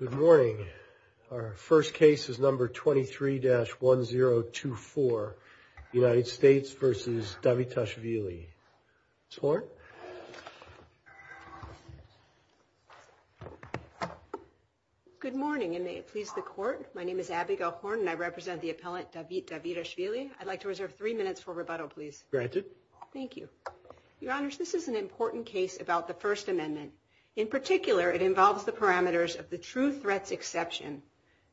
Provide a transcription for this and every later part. Good morning. Our first case is number 23-1024, United States versus Davitashvili. Ms. Horn. Good morning and may it please the court. My name is Abby Gell-Horne and I represent the appellant Davitashvili. I'd like to reserve three minutes for rebuttal, please. Granted. Thank you. Your Honor, it involves the parameters of the true threat's exception.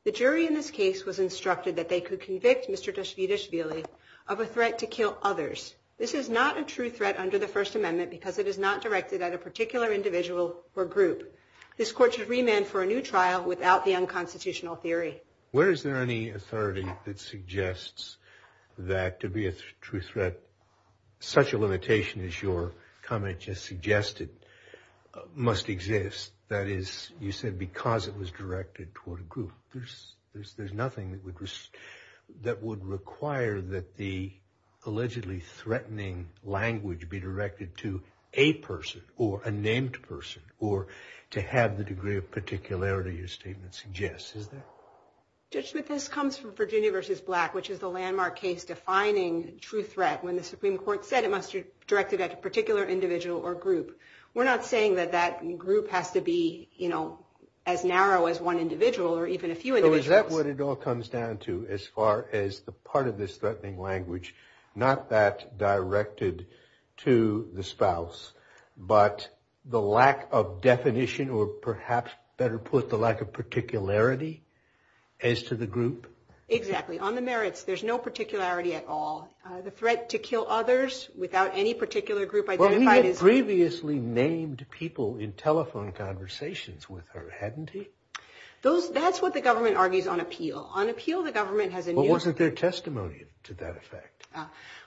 The jury in this case was instructed that they could convict Mr. Davitashvili of a threat to kill others. This is not a true threat under the First Amendment because it is not directed at a particular individual or group. This court should remand for a new trial without the unconstitutional theory. Where is there any authority that suggests that to be a true threat, such a limitation as your comment just exists, that is, you said because it was directed toward a group, there's nothing that would require that the allegedly threatening language be directed to a person or a named person or to have the degree of particularity your statement suggests, is there? Judge Smith, this comes from Virginia versus Black, which is the landmark case defining true threat when the Supreme Court said it must be directed at a particular individual or group. We're not saying that that group has to be, you know, as narrow as one individual or even a few individuals. So is that what it all comes down to as far as the part of this threatening language, not that directed to the spouse, but the lack of definition or perhaps, better put, the lack of particularity as to the group? Exactly. On the merits, there's no particularity at all. The threat to kill others without any particular group identified is... Well, we had previously named people in telephone conversations with her, hadn't we? That's what the government argues on appeal. On appeal, the government has... But wasn't there testimony to that effect?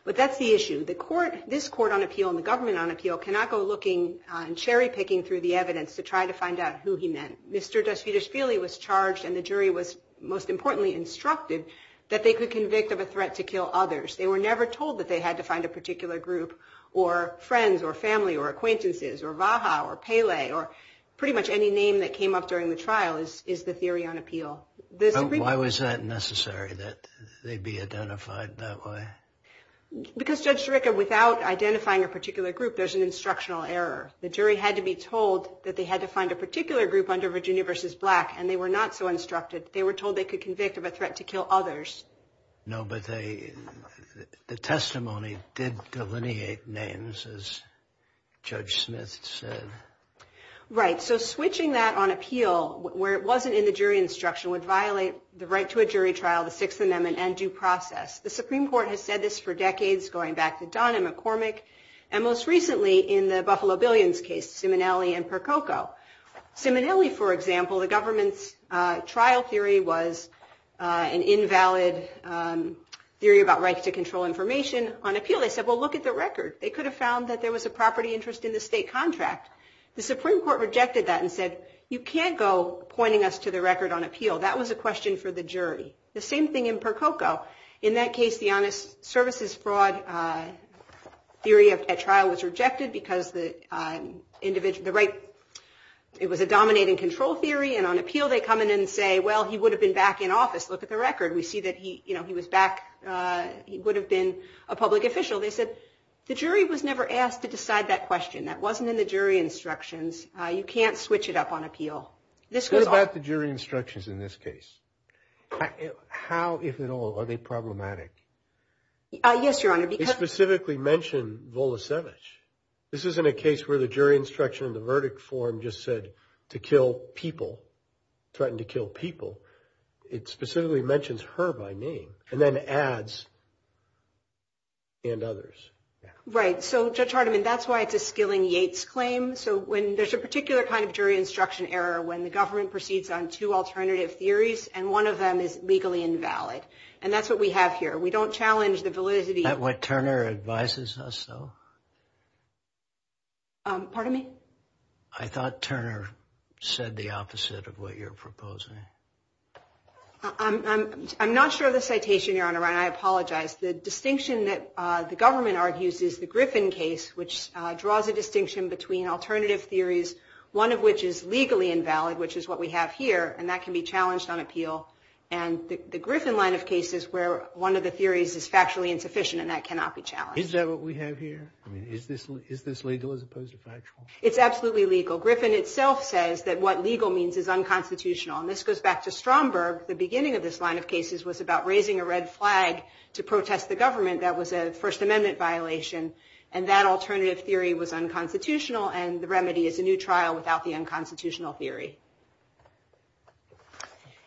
But that's the issue. The court, this court on appeal and the government on appeal cannot go looking and cherry-picking through the evidence to try to find out who he meant. Mr. Dasvidashvili was charged and the jury was, most importantly, instructed that they could convict of a threat to kill others. They were never told that they had to find a particular group or friends or family or acquaintances or Vaha or Pele or pretty much any name that came up during the trial is the theory on appeal. Why was that necessary, that they'd be identified that way? Because, Judge Derecka, without identifying a particular group, there's an instructional error. The jury had to be told that they had to find a particular group under Virginia v. Black and they were not so instructed. They were told they could convict of a threat. The testimony did delineate names, as Judge Smith said. Right, so switching that on appeal where it wasn't in the jury instruction would violate the right to a jury trial, the Sixth Amendment, and due process. The Supreme Court has said this for decades, going back to Don and McCormick, and most recently in the Buffalo Billions case, Simonelli and Percoco. Simonelli, for example, the right to control information on appeal. They said, well, look at the record. They could have found that there was a property interest in the state contract. The Supreme Court rejected that and said, you can't go pointing us to the record on appeal. That was a question for the jury. The same thing in Percoco. In that case, the honest services fraud theory at trial was rejected because the individual, the right, it was a dominating control theory and on appeal they come in and say, well, he would have been back in office. Look at the record. We see that he was back. He would have been a public official. They said, the jury was never asked to decide that question. That wasn't in the jury instructions. You can't switch it up on appeal. This goes on. What about the jury instructions in this case? How, if at all, are they problematic? Yes, Your Honor, because- They specifically mentioned Volosevich. This isn't a case where the jury instruction in the verdict form just said to kill people, threaten to kill people. It specifically mentions her by name and then adds and others. Right. So Judge Hardiman, that's why it's a Skilling-Yates claim. So when there's a particular kind of jury instruction error when the government proceeds on two alternative theories and one of them is legally invalid. And that's what we have here. We don't challenge the validity- Is that what Turner advises us, though? Pardon me? I thought Turner said the opposite of what you're proposing. I'm not sure of the citation, Your Honor, and I apologize. The distinction that the government argues is the Griffin case, which draws a distinction between alternative theories, one of which is legally invalid, which is what we have here. And that can be challenged on appeal. And the Griffin line of cases where one of the theories is factually insufficient and that cannot be challenged. Is this legal as opposed to factual? It's absolutely legal. Griffin itself says that what legal means is unconstitutional. And this goes back to Stromberg. The beginning of this line of cases was about raising a red flag to protest the government. That was a First Amendment violation. And that alternative theory was unconstitutional. And the remedy is a new trial without the unconstitutional theory.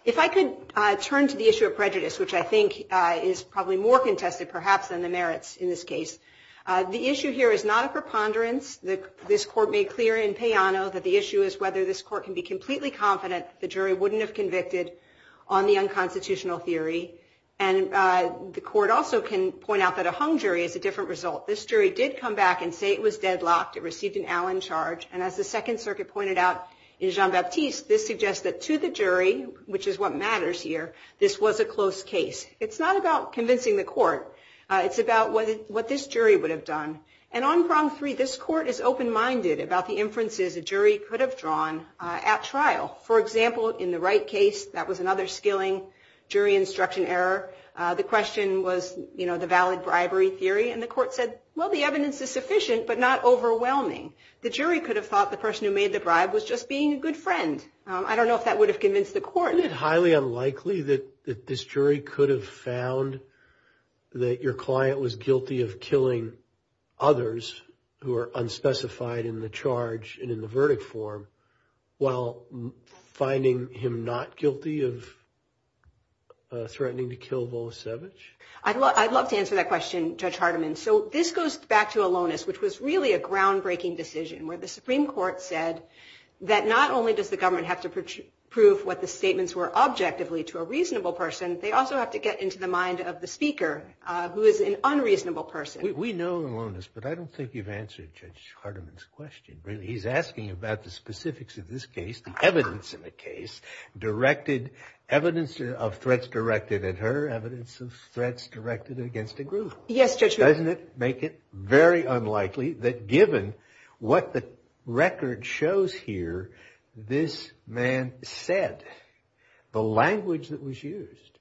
If I could turn to the issue of prejudice, which I think is probably more contested perhaps than the merits in this case. The issue here is not a preponderance. This court made clear in Payano that the issue is whether this court can be completely confident the jury wouldn't have convicted on the unconstitutional theory. And the court also can point out that a hung jury is a different result. This jury did come back and say it was deadlocked. It received an Allen charge. And as the Second Circuit pointed out in Jean-Baptiste, this suggests that to the jury, which is what matters here, this was a close case. It's not about convincing the court. It's about what this jury would have done. And on Prong 3, this court is open-minded about the inferences a jury could have drawn at trial. For example, in the Wright case, that was another skilling jury instruction error. The question was, you know, the valid bribery theory. And the court said, well, the evidence is sufficient but not overwhelming. The jury could have thought the person who made the bribe was just being a good friend. I don't know if that would have convinced the court. Isn't it highly unlikely that this jury could have found that your client was guilty of killing others who are unspecified in the charge and in the verdict form, while finding him not guilty of threatening to kill Volosevich? I'd love to answer that question, Judge Hardiman. So this goes back to Alonis, which was really a groundbreaking decision, where the Supreme Court said that not only does the government have to prove what the statements were objectively to a reasonable person, they also have to get into the mind of the speaker, who is an unreasonable person. We know, Alonis, but I don't think you've answered Judge Hardiman's question. Really, he's asking about the specifics of this case, the evidence in the case, directed, evidence of threats directed at her, evidence of threats directed against a group. Yes, Judge. Doesn't it make it very unlikely that given what the record shows here, this man said, the language that was used,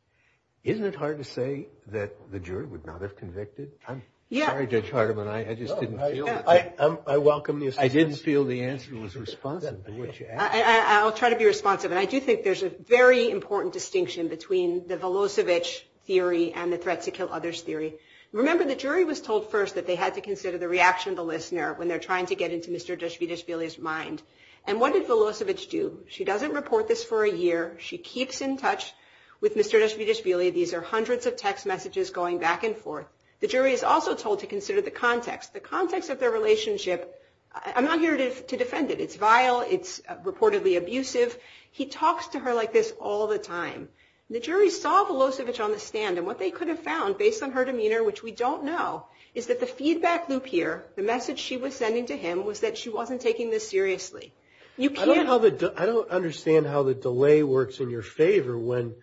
isn't it hard to say that the jury would not have convicted? I'm sorry, Judge Hardiman, I just didn't feel it. I welcome the assistance. I didn't feel the answer was responsive to what you asked. I'll try to be responsive. And I do think there's a very important distinction between the Volosevich theory and the threat to kill others theory. Remember, the jury was told first that they had to consider the reaction of the listener when they're trying to get into Mr. Dostoevsky's mind. And what did Volosevich do? She doesn't report this for a year. She keeps in touch with Mr. Dostoevsky. These are hundreds of text messages going back and forth. The jury is also told to consider the context. The context of their relationship, I'm not here to defend it. It's vile. It's reportedly abusive. He talks to her like this all the time. The jury saw Volosevich on the stand. And what they could have found, based on her demeanor, which we don't know, is that the feedback loop here, the message she was sending to him, was that she wasn't taking this seriously. You can't- I don't understand how the delay works in your favor when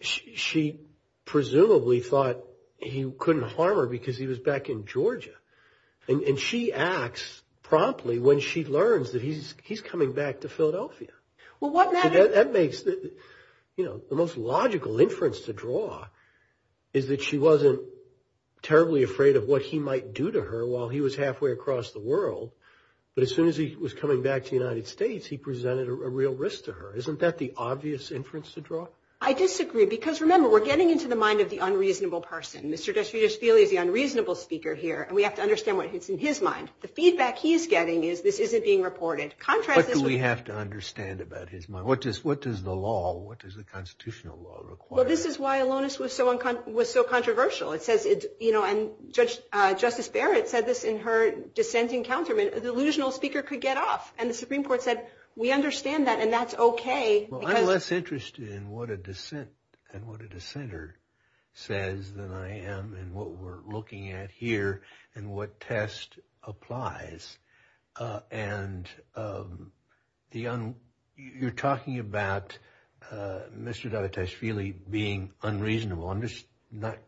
she presumably thought he couldn't harm her because he was back in Georgia. And she acts promptly when she learns that he's coming back to Philadelphia. Well, wasn't that- That makes, you know, the most logical inference to draw is that she wasn't terribly afraid of what he might do to her while he was halfway across the world. But as soon as he was coming back to the United States, he presented a real risk to her. Isn't that the obvious inference to draw? I disagree. Because remember, we're getting into the mind of the unreasonable person. Mr. Desvetosvili is the unreasonable speaker here. And we have to understand what's in his mind. The feedback he's getting is this isn't being reported. Contrast this with- What do we have to understand about his mind? What does the law, what does the constitutional law require? Well, this is why Alonis was so controversial. It says it's, you know, and Justice Barrett said this in her dissenting counterment, the delusional speaker could get off. And the Supreme Court said, we understand that and that's okay. Well, I'm less interested in what a dissent and what a dissenter says than I am in what we're looking at here and what test applies. And you're talking about Mr. Desvetosvili being unreasonable. I'm just not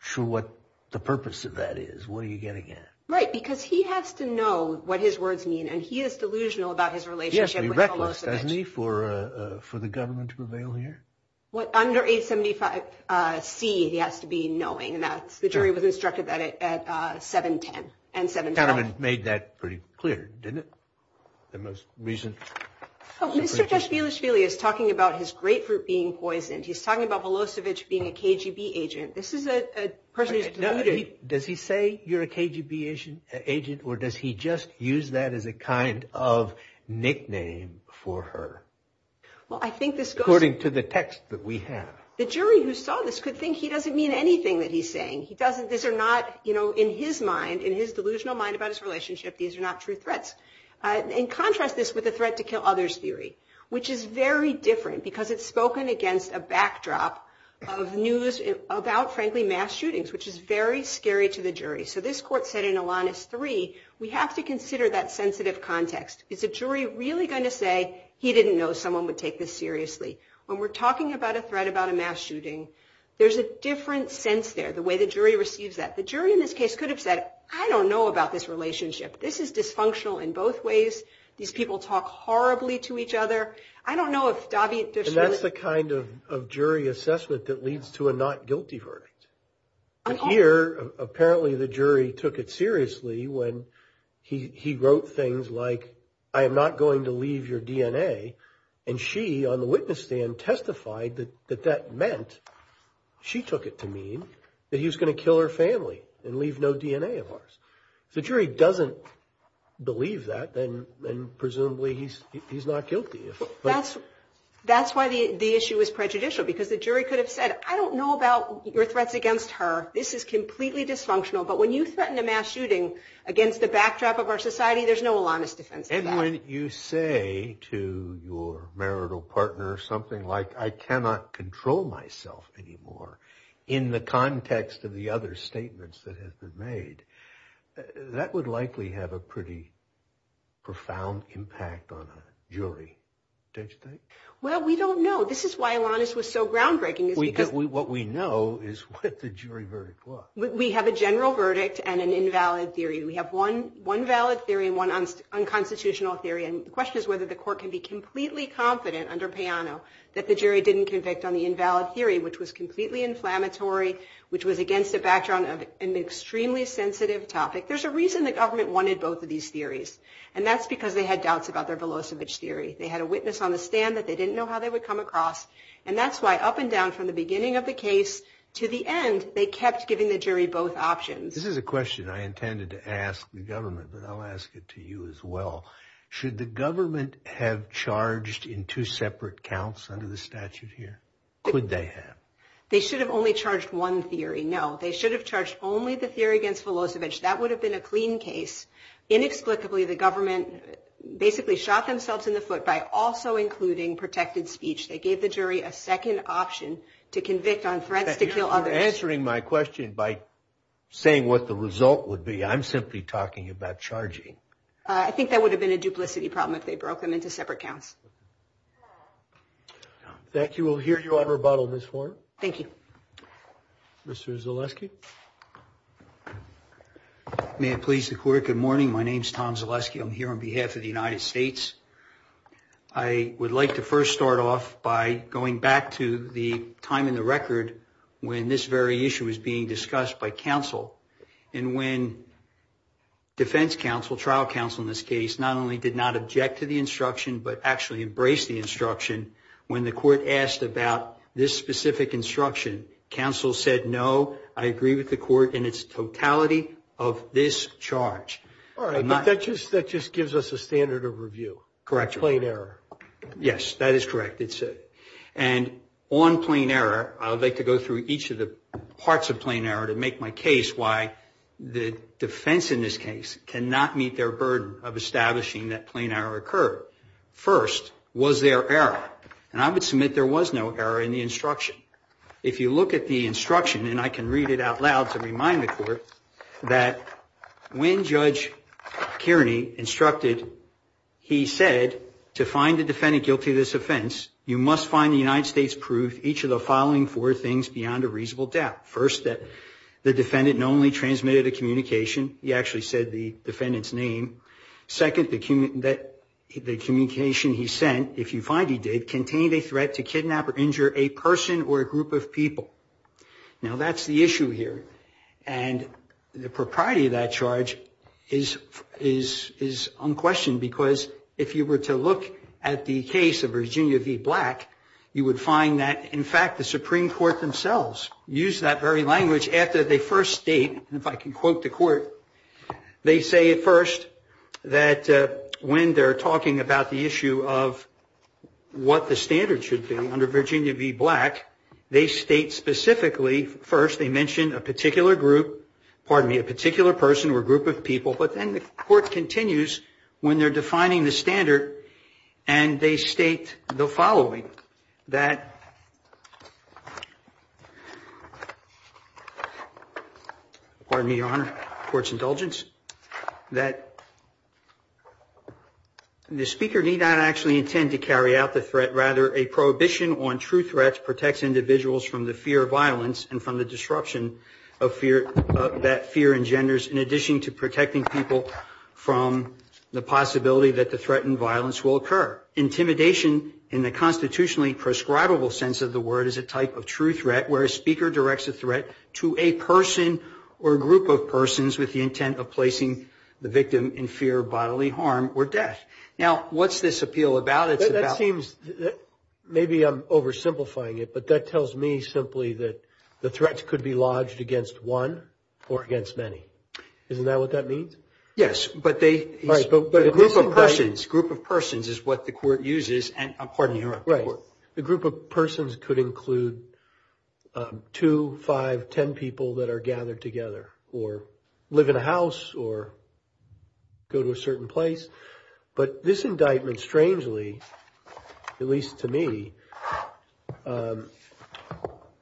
sure what the purpose of that is. What are you getting at? Right, because he has to know what his words mean. And he is delusional about his relationship with Velocevic. Yes, but he reckless, doesn't he, for the government to prevail here? What under 875C he has to be knowing. And that's, the jury was instructed that at 710 and 712. The gentleman made that pretty clear, didn't he? The most recent- Mr. Desvetosvili is talking about his grapefruit being poisoned. He's talking about Velocevic being a KGB agent. This is a person who's deluded. Does he say you're a KGB agent or does he just use that as a kind of nickname for her? Well, I think this goes- According to the text that we have. The jury who saw this could think he doesn't mean anything that he's saying. These are not, in his mind, in his delusional mind about his relationship, these are not true threats. In contrast, this with the threat to kill others theory. Which is very different because it's spoken against a backdrop of news about, frankly, mass shootings, which is very scary to the jury. So this court said in Alanis III, we have to consider that sensitive context. Is a jury really going to say he didn't know someone would take this seriously? When we're talking about a threat about a mass shooting, there's a different sense there, the way the jury receives that. The jury in this case could have said, I don't know about this relationship. This is dysfunctional in both ways. These people talk horribly to each other. I don't know if Davit Dishman- And that's the kind of jury assessment that leads to a not guilty verdict. And here, apparently the jury took it seriously when he wrote things like, I am not going to leave your DNA. And she, on the witness stand, testified that that meant, she took it to mean that he was gonna kill her family and leave no DNA of ours. If the jury doesn't believe that, then presumably he's not guilty. That's why the issue is prejudicial, because the jury could have said, I don't know about your threats against her. This is completely dysfunctional. But when you threaten a mass shooting against the backdrop of our society, there's no Alanis defense for that. And when you say to your marital partner something like, I cannot control myself anymore, in the context of the other statements that have been made, that would likely have a pretty profound impact on a jury, don't you think? Well, we don't know. This is why Alanis was so groundbreaking, is because- What we know is what the jury verdict was. We have a general verdict and an invalid theory. We have one valid theory and one unconstitutional theory. And the question is whether the court can be completely confident under Peano that the jury didn't convict on the invalid theory, which was completely inflammatory, which was against a backdrop of an extremely sensitive topic. There's a reason the government wanted both of these theories. And that's because they had doubts about their Velocevic theory. They had a witness on the stand that they didn't know how they would come across. And that's why up and down from the beginning of the case to the end, they kept giving the jury both options. This is a question I intended to ask the government, but I'll ask it to you as well. Should the government have charged in two separate counts under the statute here? Could they have? They should have only charged one theory. No, they should have charged only the theory against Velocevic. That would have been a clean case. Inexplicably, the government basically shot themselves in the foot by also including protected speech. They gave the jury a second option to convict on threats to kill others. You're answering my question by saying what the result would be. I'm simply talking about charging. I think that would have been a duplicity problem if they broke them into separate counts. Thank you. We'll hear you on rebuttal, Ms. Warren. Thank you. Mr. Zaleski. May it please the court, good morning. My name is Tom Zaleski. I'm here on behalf of the United States. I would like to first start off by going back to the time in the record when this very issue was being discussed by counsel. And when defense counsel, trial counsel in this case, not only did not object to the instruction, but actually embraced the instruction, when the court asked about this specific instruction, counsel said, no, I agree with the court in its totality of this charge. All right, but that just gives us a standard of review. Correct. Plain error. Yes, that is correct. And on plain error, I would like to go through each of the parts of plain error to make my case why the defense in this case cannot meet their burden of establishing that plain error occurred. First, was there error? And I would submit there was no error in the instruction. If you look at the instruction, and I can read it out loud to remind the court, that when Judge Kearney instructed, he said, to find the defendant guilty of this offense, you must find the United States proof each of the following four things beyond a reasonable doubt. First, that the defendant not only transmitted a communication, he actually said the defendant's name. Second, that the communication he sent, if you find he did, contained a threat to kidnap or injure a person or a group of people. Now, that's the issue here. And the propriety of that charge is unquestioned, because if you were to look at the case of Virginia v. Black, you would find that, in fact, the Supreme Court themselves used that very language after they first state, and if I can quote the court, they say at first that when they're talking about the issue of what the standard should be under Virginia v. Black, they state specifically, first, they mention a particular group, pardon me, a particular person or group of people. But then the court continues when they're defining the standard, and they state the following, that, pardon me, Your Honor, court's indulgence, that the speaker need not actually intend to carry out the threat. Rather, a prohibition on true threats protects individuals from the fear of violence and from the disruption that fear engenders, in addition to protecting people from the possibility that the threat and violence will occur. Intimidation, in the constitutionally prescribable sense of the word, is a type of true threat where a speaker directs a threat to a person or group of persons with the intent of placing the victim in fear of bodily harm or death. Now, what's this appeal about? It's about... Maybe I'm oversimplifying it, but that tells me simply that the threat could be lodged against one or against many. Isn't that what that means? Yes, but they... But a group of persons, group of persons is what the court uses, and, pardon me, Your Honor... Right. The group of persons could include two, five, ten people that are gathered together or live in a house or go to a certain place. But this indictment, strangely, at least to me,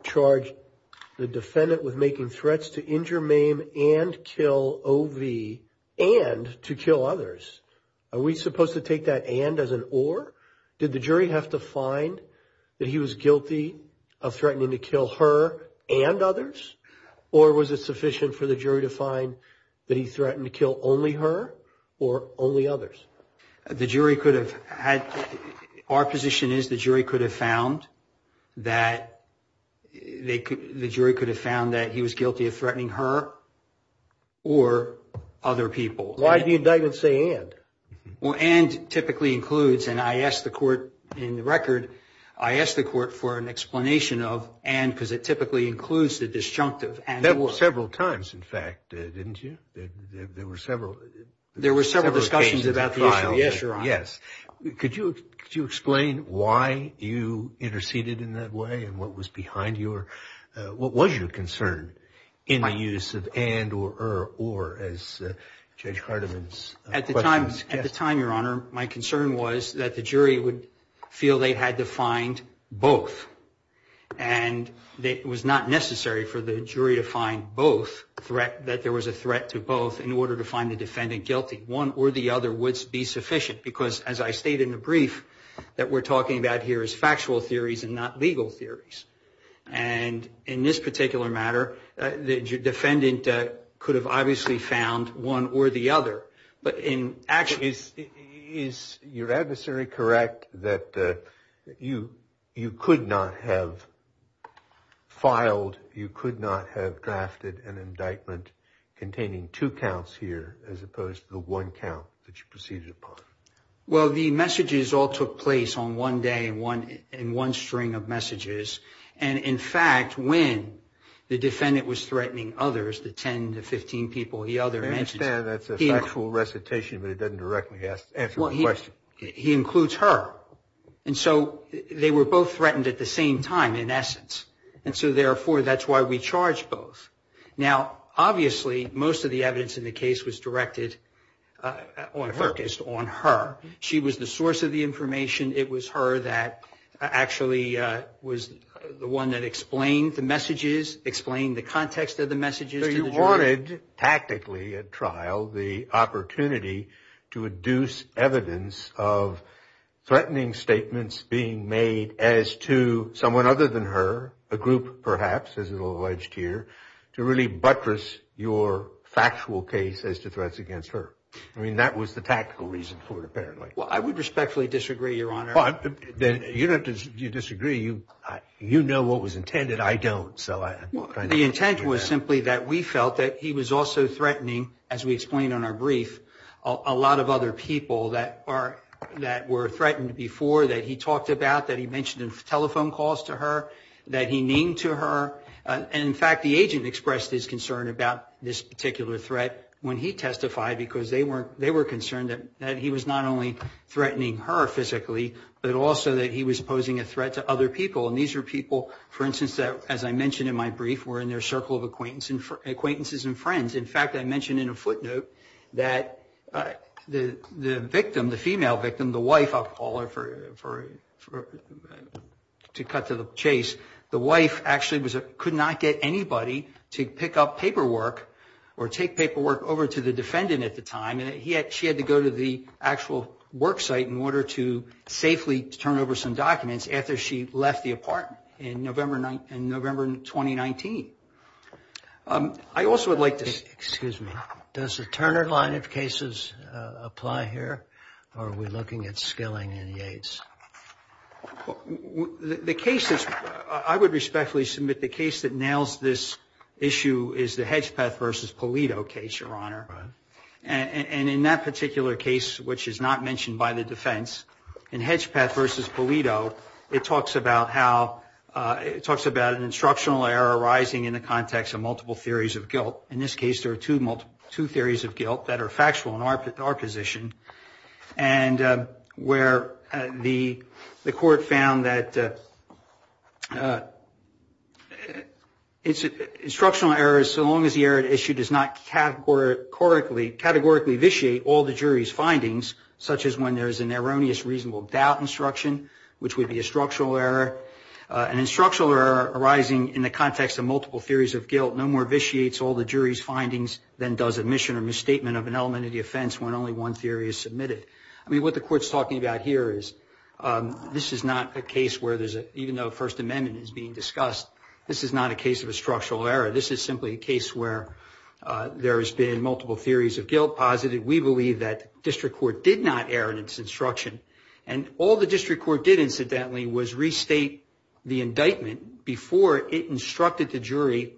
charged the defendant with making threats to injure, maim, and kill O.V. and to kill others. Are we supposed to take that and as an or? Did the jury have to find that he was guilty of threatening to kill her and others? Or was it sufficient for the jury to find that he threatened to kill only her or only others? The jury could have had... Our position is the jury could have found that... Or other people. Why did the indictment say and? Well, and typically includes, and I asked the court in the record, I asked the court for an explanation of and because it typically includes the disjunctive and... That was several times, in fact, didn't you? There were several... There were several discussions about the issue. Yes, Your Honor. Yes. Could you explain why you interceded in that way and what was behind your... In the use of and or as Judge Cardamon's... At the time, at the time, Your Honor, my concern was that the jury would feel they had to find both. And it was not necessary for the jury to find both threat... That there was a threat to both in order to find the defendant guilty. One or the other would be sufficient because, as I stated in the brief, that we're talking about here is factual theories and not legal theories. And in this particular matter, the defendant could have obviously found one or the other. But in... Actually, is your adversary correct that you could not have filed, you could not have drafted an indictment containing two counts here as opposed to the one count that you proceeded upon? Well, the messages all took place on one day and one string of messages. And in fact, when the defendant was threatening others, the 10 to 15 people the other mentioned... I understand that's a factual recitation, but it doesn't directly answer the question. He includes her. And so they were both threatened at the same time in essence. And so therefore, that's why we charged both. Now, obviously, most of the evidence in the case was directed or focused on her. She was the source of the information. It was her that actually was the one that explained the messages, explained the context of the messages. So you wanted tactically at trial the opportunity to induce evidence of threatening statements being made as to someone other than her, a group perhaps, as it alleged here, to really buttress your factual case as to threats against her. I mean, that was the tactical reason for it, apparently. Well, I would respectfully disagree, Your Honor. Well, you don't have to disagree. You know what was intended. I don't. So I'm trying to... The intent was simply that we felt that he was also threatening, as we explained on our brief, a lot of other people that were threatened before, that he talked about, that he mentioned in telephone calls to her, that he named to her. And in fact, the agent expressed his concern about this particular threat when he testified because they were concerned that he was not only threatening her physically, but also that he was posing a threat to other people. And these were people, for instance, as I mentioned in my brief, were in their circle of acquaintances and friends. In fact, I mentioned in a footnote that the victim, the female victim, the wife, I'll call her to cut to the chase, the wife actually could not get anybody to pick up paperwork or take paperwork over to the defendant at the time. And she had to go to the actual work site in order to safely turn over some documents after she left the apartment in November 2019. I also would like to... Excuse me. Does the Turner line of cases apply here or are we looking at Skilling and Yates? The case that's... I would respectfully submit the case that nails this issue is the Hedgepeth versus Polito case, Your Honor. And in that particular case, which is not mentioned by the defense, in Hedgepeth versus Polito, it talks about how... It talks about an instructional error arising in the context of multiple theories of guilt. In this case, there are two theories of guilt that are factual in our position and where the court found that instructional errors, so long as the error at issue does not categorically vitiate all the jury's findings, such as when there's an erroneous reasonable doubt instruction, which would be a structural error. An instructional error arising in the context of multiple theories of guilt no more vitiates all the jury's findings than does admission or misstatement of an element of the offense when only one theory is submitted. I mean, what the court's talking about here is this is not a case where there's a... Even though First Amendment is being discussed, this is not a case of a structural error. This is simply a case where there has been multiple theories of guilt posited. We believe that district court did not err in its instruction. And all the district court did, incidentally, was restate the indictment before it instructed the jury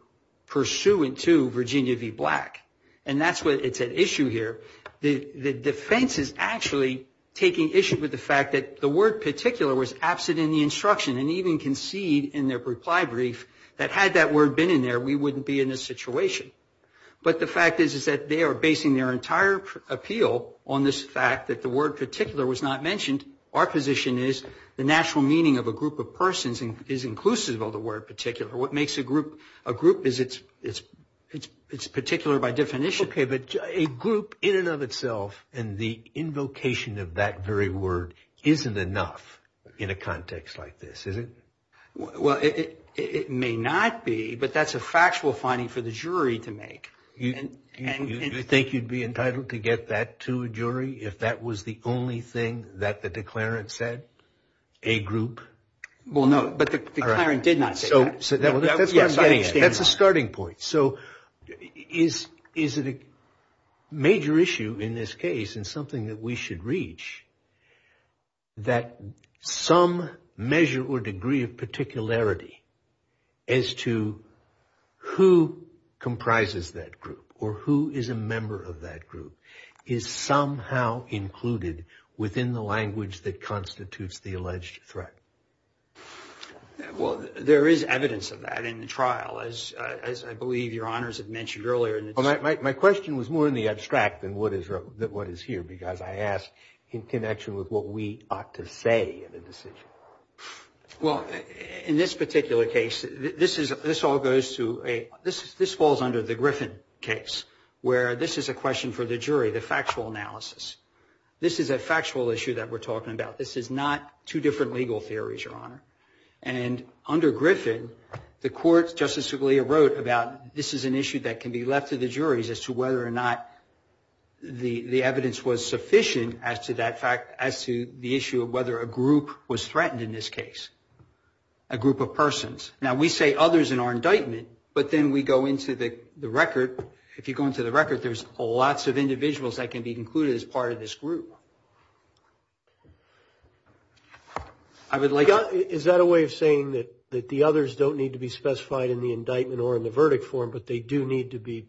pursuant to Virginia v. Black. And that's what... It's at issue here. The defense is actually taking issue with the fact that the word particular was absent in the instruction and even concede in their reply brief that had that word been in there, we wouldn't be in this situation. But the fact is, is that they are basing their entire appeal on this fact that the word particular was not mentioned. Our position is the natural meaning of a group of persons is inclusive of the word particular. What makes a group a group is it's particular by definition. Okay. But a group in and of itself and the invocation of that very word isn't enough in a context like this, is it? Well, it may not be, but that's a factual finding for the jury to make. You think you'd be entitled to get that to a jury if that was the only thing that the declarant said? A group? Well, no. But the declarant did not say that. That's what I'm getting at. That's a starting point. So is it a major issue in this case and something that we should reach that some measure or degree of particularity as to who comprises that group or who is a member of that group is somehow included within the language that constitutes the alleged threat? Well, there is evidence of that in the trial, as I believe Your Honors had mentioned earlier. My question was more in the abstract than what is here, because I asked in connection with what we ought to say in a decision. Well, in this particular case, this all goes to a – this falls under the Griffin case, where this is a question for the jury, the factual analysis. This is a factual issue that we're talking about. This is not two different legal theories, Your Honor. And under Griffin, the court, Justice Scalia wrote about this is an issue that can be left to the juries as to whether or not the evidence was sufficient as to that fact – as to the issue of whether a group was threatened in this case, a group of persons. Now, we say others in our indictment, but then we go into the record. If you go into the record, there's lots of individuals that can be included as part of this group. I would like to – Is that a way of saying that the others don't need to be specified in the indictment or in the verdict form, but they do need to be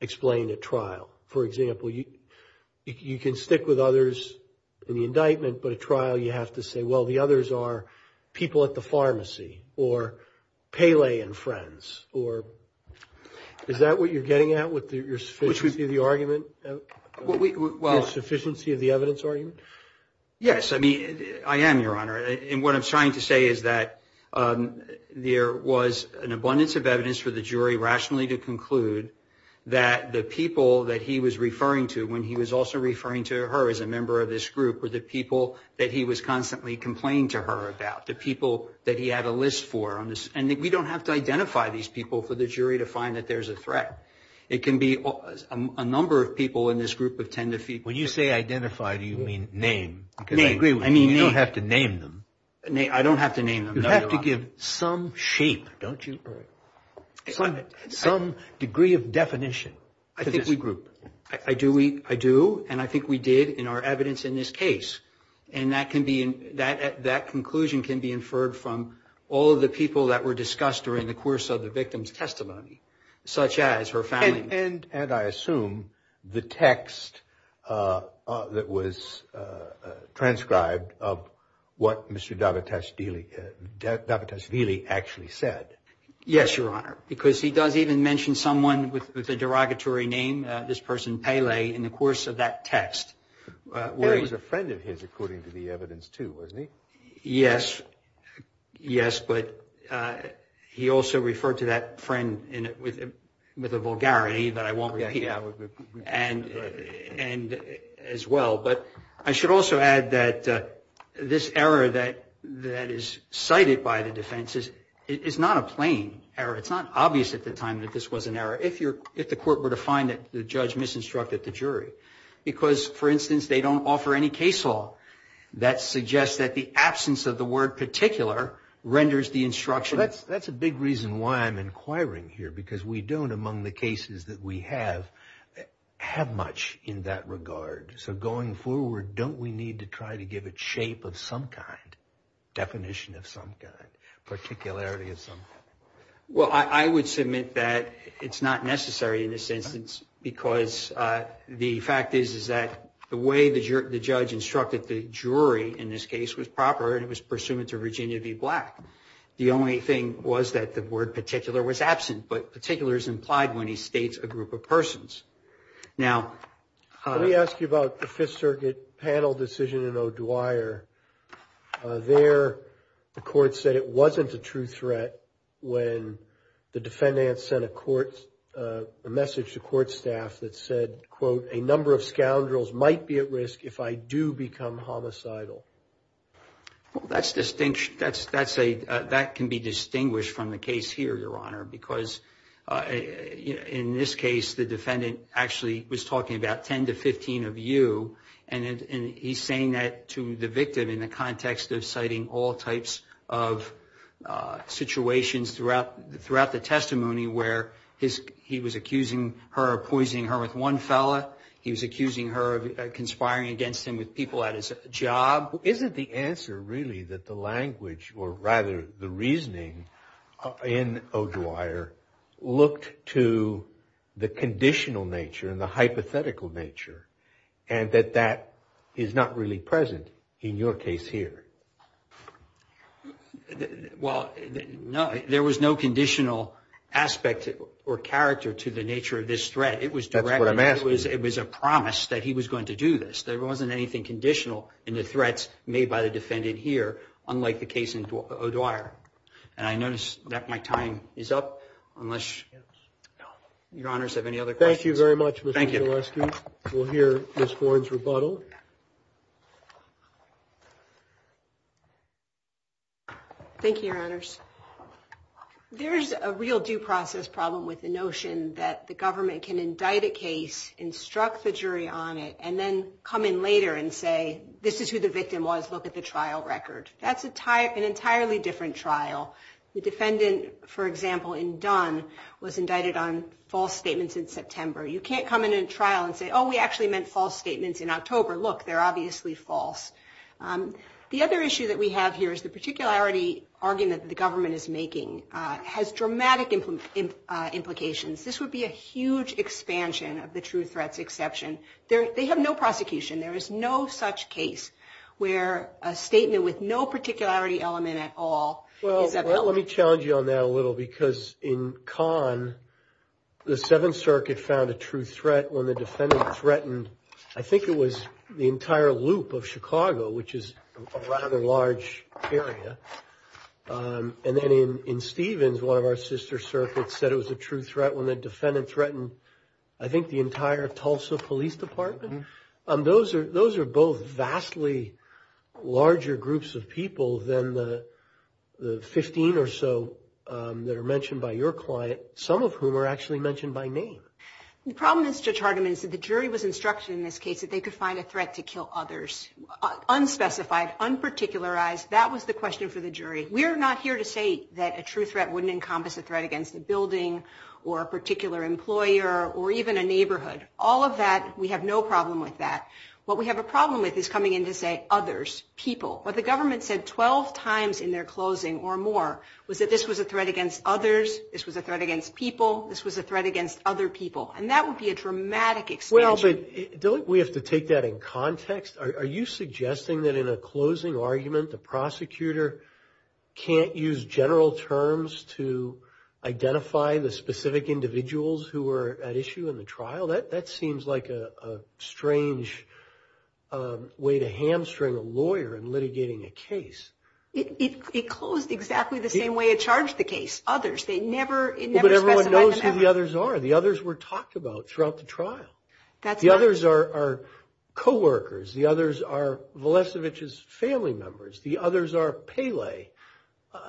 explained at trial? For example, you can stick with others in the indictment, but at trial you have to say, well, the others are people at the pharmacy or Pele and friends. Is that what you're getting at with your sufficiency of the argument? Yes, I mean, I am, Your Honor. And what I'm trying to say is that there was an abundance of evidence for the jury rationally to conclude that the people that he was referring to when he was also referring to her as a member of this group were the people that he was constantly complaining to her about, the people that he had a list for. And we don't have to identify these people for the jury to find that there's a threat. It can be a number of people in this group of 10 to 15. When you say identify, do you mean name? Name. I mean, you don't have to name them. I don't have to name them. You have to give some shape, don't you? Some degree of definition. I think we group. I do, and I think we did in our evidence in this case. And that conclusion can be inferred from all of the people that were discussed during the course of the victim's testimony, such as her family. And I assume the text that was transcribed of what Mr. Davitesvili actually said. Yes, Your Honor, because he does even mention someone with a derogatory name, this person Pele, in the course of that text. And he was a friend of his, according to the evidence, too, wasn't he? Yes. Yes, but he also referred to that friend with a vulgarity that I won't repeat as well. But I should also add that this error that is cited by the defense is not a plain error. It's not obvious at the time that this was an error, if the court were to find that the judge misinstructed the jury. Because, for instance, they don't offer any case law that suggests that the absence of the word particular renders the instruction. That's a big reason why I'm inquiring here, because we don't, among the cases that we have, have much in that regard. So going forward, don't we need to try to give it shape of some kind, definition of some kind, particularity of some kind? Well, I would submit that it's not necessary in this instance, because the fact is that the way the judge instructed the jury in this case was proper, and it was pursuant to Virginia v. Black. The only thing was that the word particular was absent, but particular is implied when he states a group of persons. Now, let me ask you about the Fifth Circuit panel decision in O'Dwyer. There the court said it wasn't a true threat when the defendant sent a message to court staff that said, quote, a number of scoundrels might be at risk if I do become homicidal. Well, that can be distinguished from the case here, Your Honor, because in this case the defendant actually was talking about 10 to 15 of you, and he's saying that to the victim in the context of citing all types of situations throughout the testimony where he was accusing her of poisoning her with one fella, he was accusing her of conspiring against him with people at his job. Isn't the answer really that the language, or rather the reasoning in O'Dwyer, looked to the conditional nature and the hypothetical nature, and that that is not really present in your case here? Well, there was no conditional aspect or character to the nature of this threat. It was direct. That's what I'm asking. It was a promise that he was going to do this. There wasn't anything conditional in the threats made by the defendant here, unlike the case in O'Dwyer. And I notice that my time is up, unless Your Honors have any other questions. Thank you very much, Mr. Jalewski. We'll hear Ms. Bourne's rebuttal. Thank you, Your Honors. There's a real due process problem with the notion that the government can indict a case, instruct the jury on it, and then come in later and say, this is who the victim was, look at the trial record. That's an entirely different trial. The defendant, for example, in Dunn, was indicted on false statements in September. You can't come in a trial and say, oh, we actually meant false statements in October. Look, they're obviously false. The other issue that we have here is the particularity argument that the government is making has dramatic implications. This would be a huge expansion of the true threats exception. They have no prosecution. There is no such case where a statement with no particularity element at all is available. Well, let me challenge you on that a little, because in Kahn, the Seventh Circuit found a true threat when the defendant threatened, I think it was, the entire loop of Chicago, which is a rather large area. And then in Stevens, one of our sister circuits said it was a true threat when the defendant threatened, I think, the entire Tulsa Police Department. Those are both vastly larger groups of people than the 15 or so that are mentioned by your client, some of whom are actually mentioned by name. The problem, Judge Hardiman, is that the jury was instructed in this case that they could find a threat to kill others, unspecified, unparticularized. That was the question for the jury. We are not here to say that a true threat wouldn't encompass a threat against a building or a particular employer or even a neighborhood. All of that, we have no problem with that. What we have a problem with is coming in to say others, people. What the government said 12 times in their closing or more was that this was a threat against others, this was a threat against people, this was a threat against other people. And that would be a dramatic expansion. Well, but don't we have to take that in context? Are you suggesting that in a closing argument, the prosecutor can't use general terms to identify the specific individuals who were at issue in the trial? Well, that seems like a strange way to hamstring a lawyer in litigating a case. It closed exactly the same way it charged the case, others. They never specified them. Well, but everyone knows who the others are. The others were talked about throughout the trial. The others are coworkers. The others are Valesovich's family members. The others are Pele.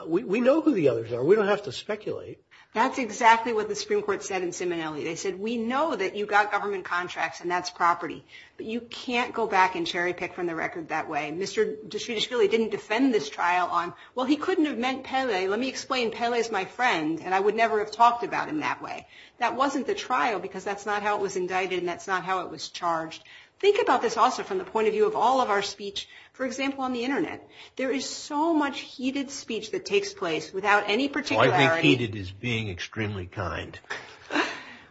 We know who the others are. We don't have to speculate. That's exactly what the Supreme Court said in Simonelli. They said, we know that you got government contracts, and that's property. But you can't go back and cherry pick from the record that way. Mr. Deschutes really didn't defend this trial on, well, he couldn't have meant Pele. Let me explain. Pele's my friend, and I would never have talked about him that way. That wasn't the trial because that's not how it was indicted, and that's not how it was charged. Think about this also from the point of view of all of our speech, for example, on the Internet. There is so much heated speech that takes place without any particularity.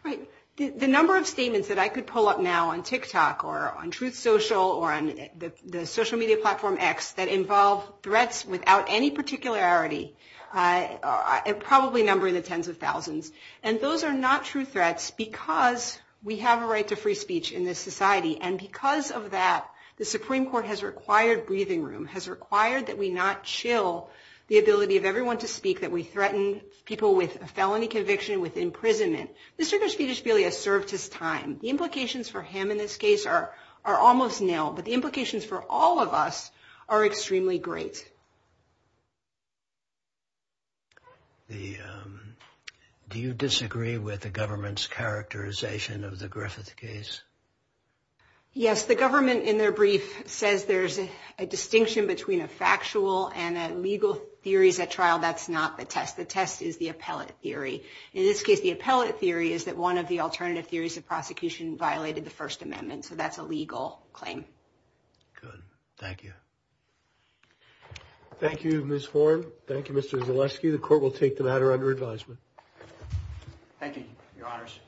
Right. The number of statements that I could pull up now on TikTok or on Truth Social or on the social media platform X that involve threats without any particularity are probably numbering in the tens of thousands. And those are not true threats because we have a right to free speech in this society. And because of that, the Supreme Court has required breathing room, has required that we not chill the ability of everyone to speak, that we threaten people with a felony conviction with imprisonment. Mr. Deschutes really has served his time. The implications for him in this case are almost nil, but the implications for all of us are extremely great. Do you disagree with the government's characterization of the Griffith case? Yes, the government in their brief says there's a distinction between a factual and a legal theories at trial. That's not the test. The test is the appellate theory. In this case, the appellate theory is that one of the alternative theories of prosecution violated the First Amendment. So that's a legal claim. Good. Thank you. Thank you, Ms. Horn. Thank you, Mr. Zaleski. The court will take the matter under advisement. Thank you, Your Honors.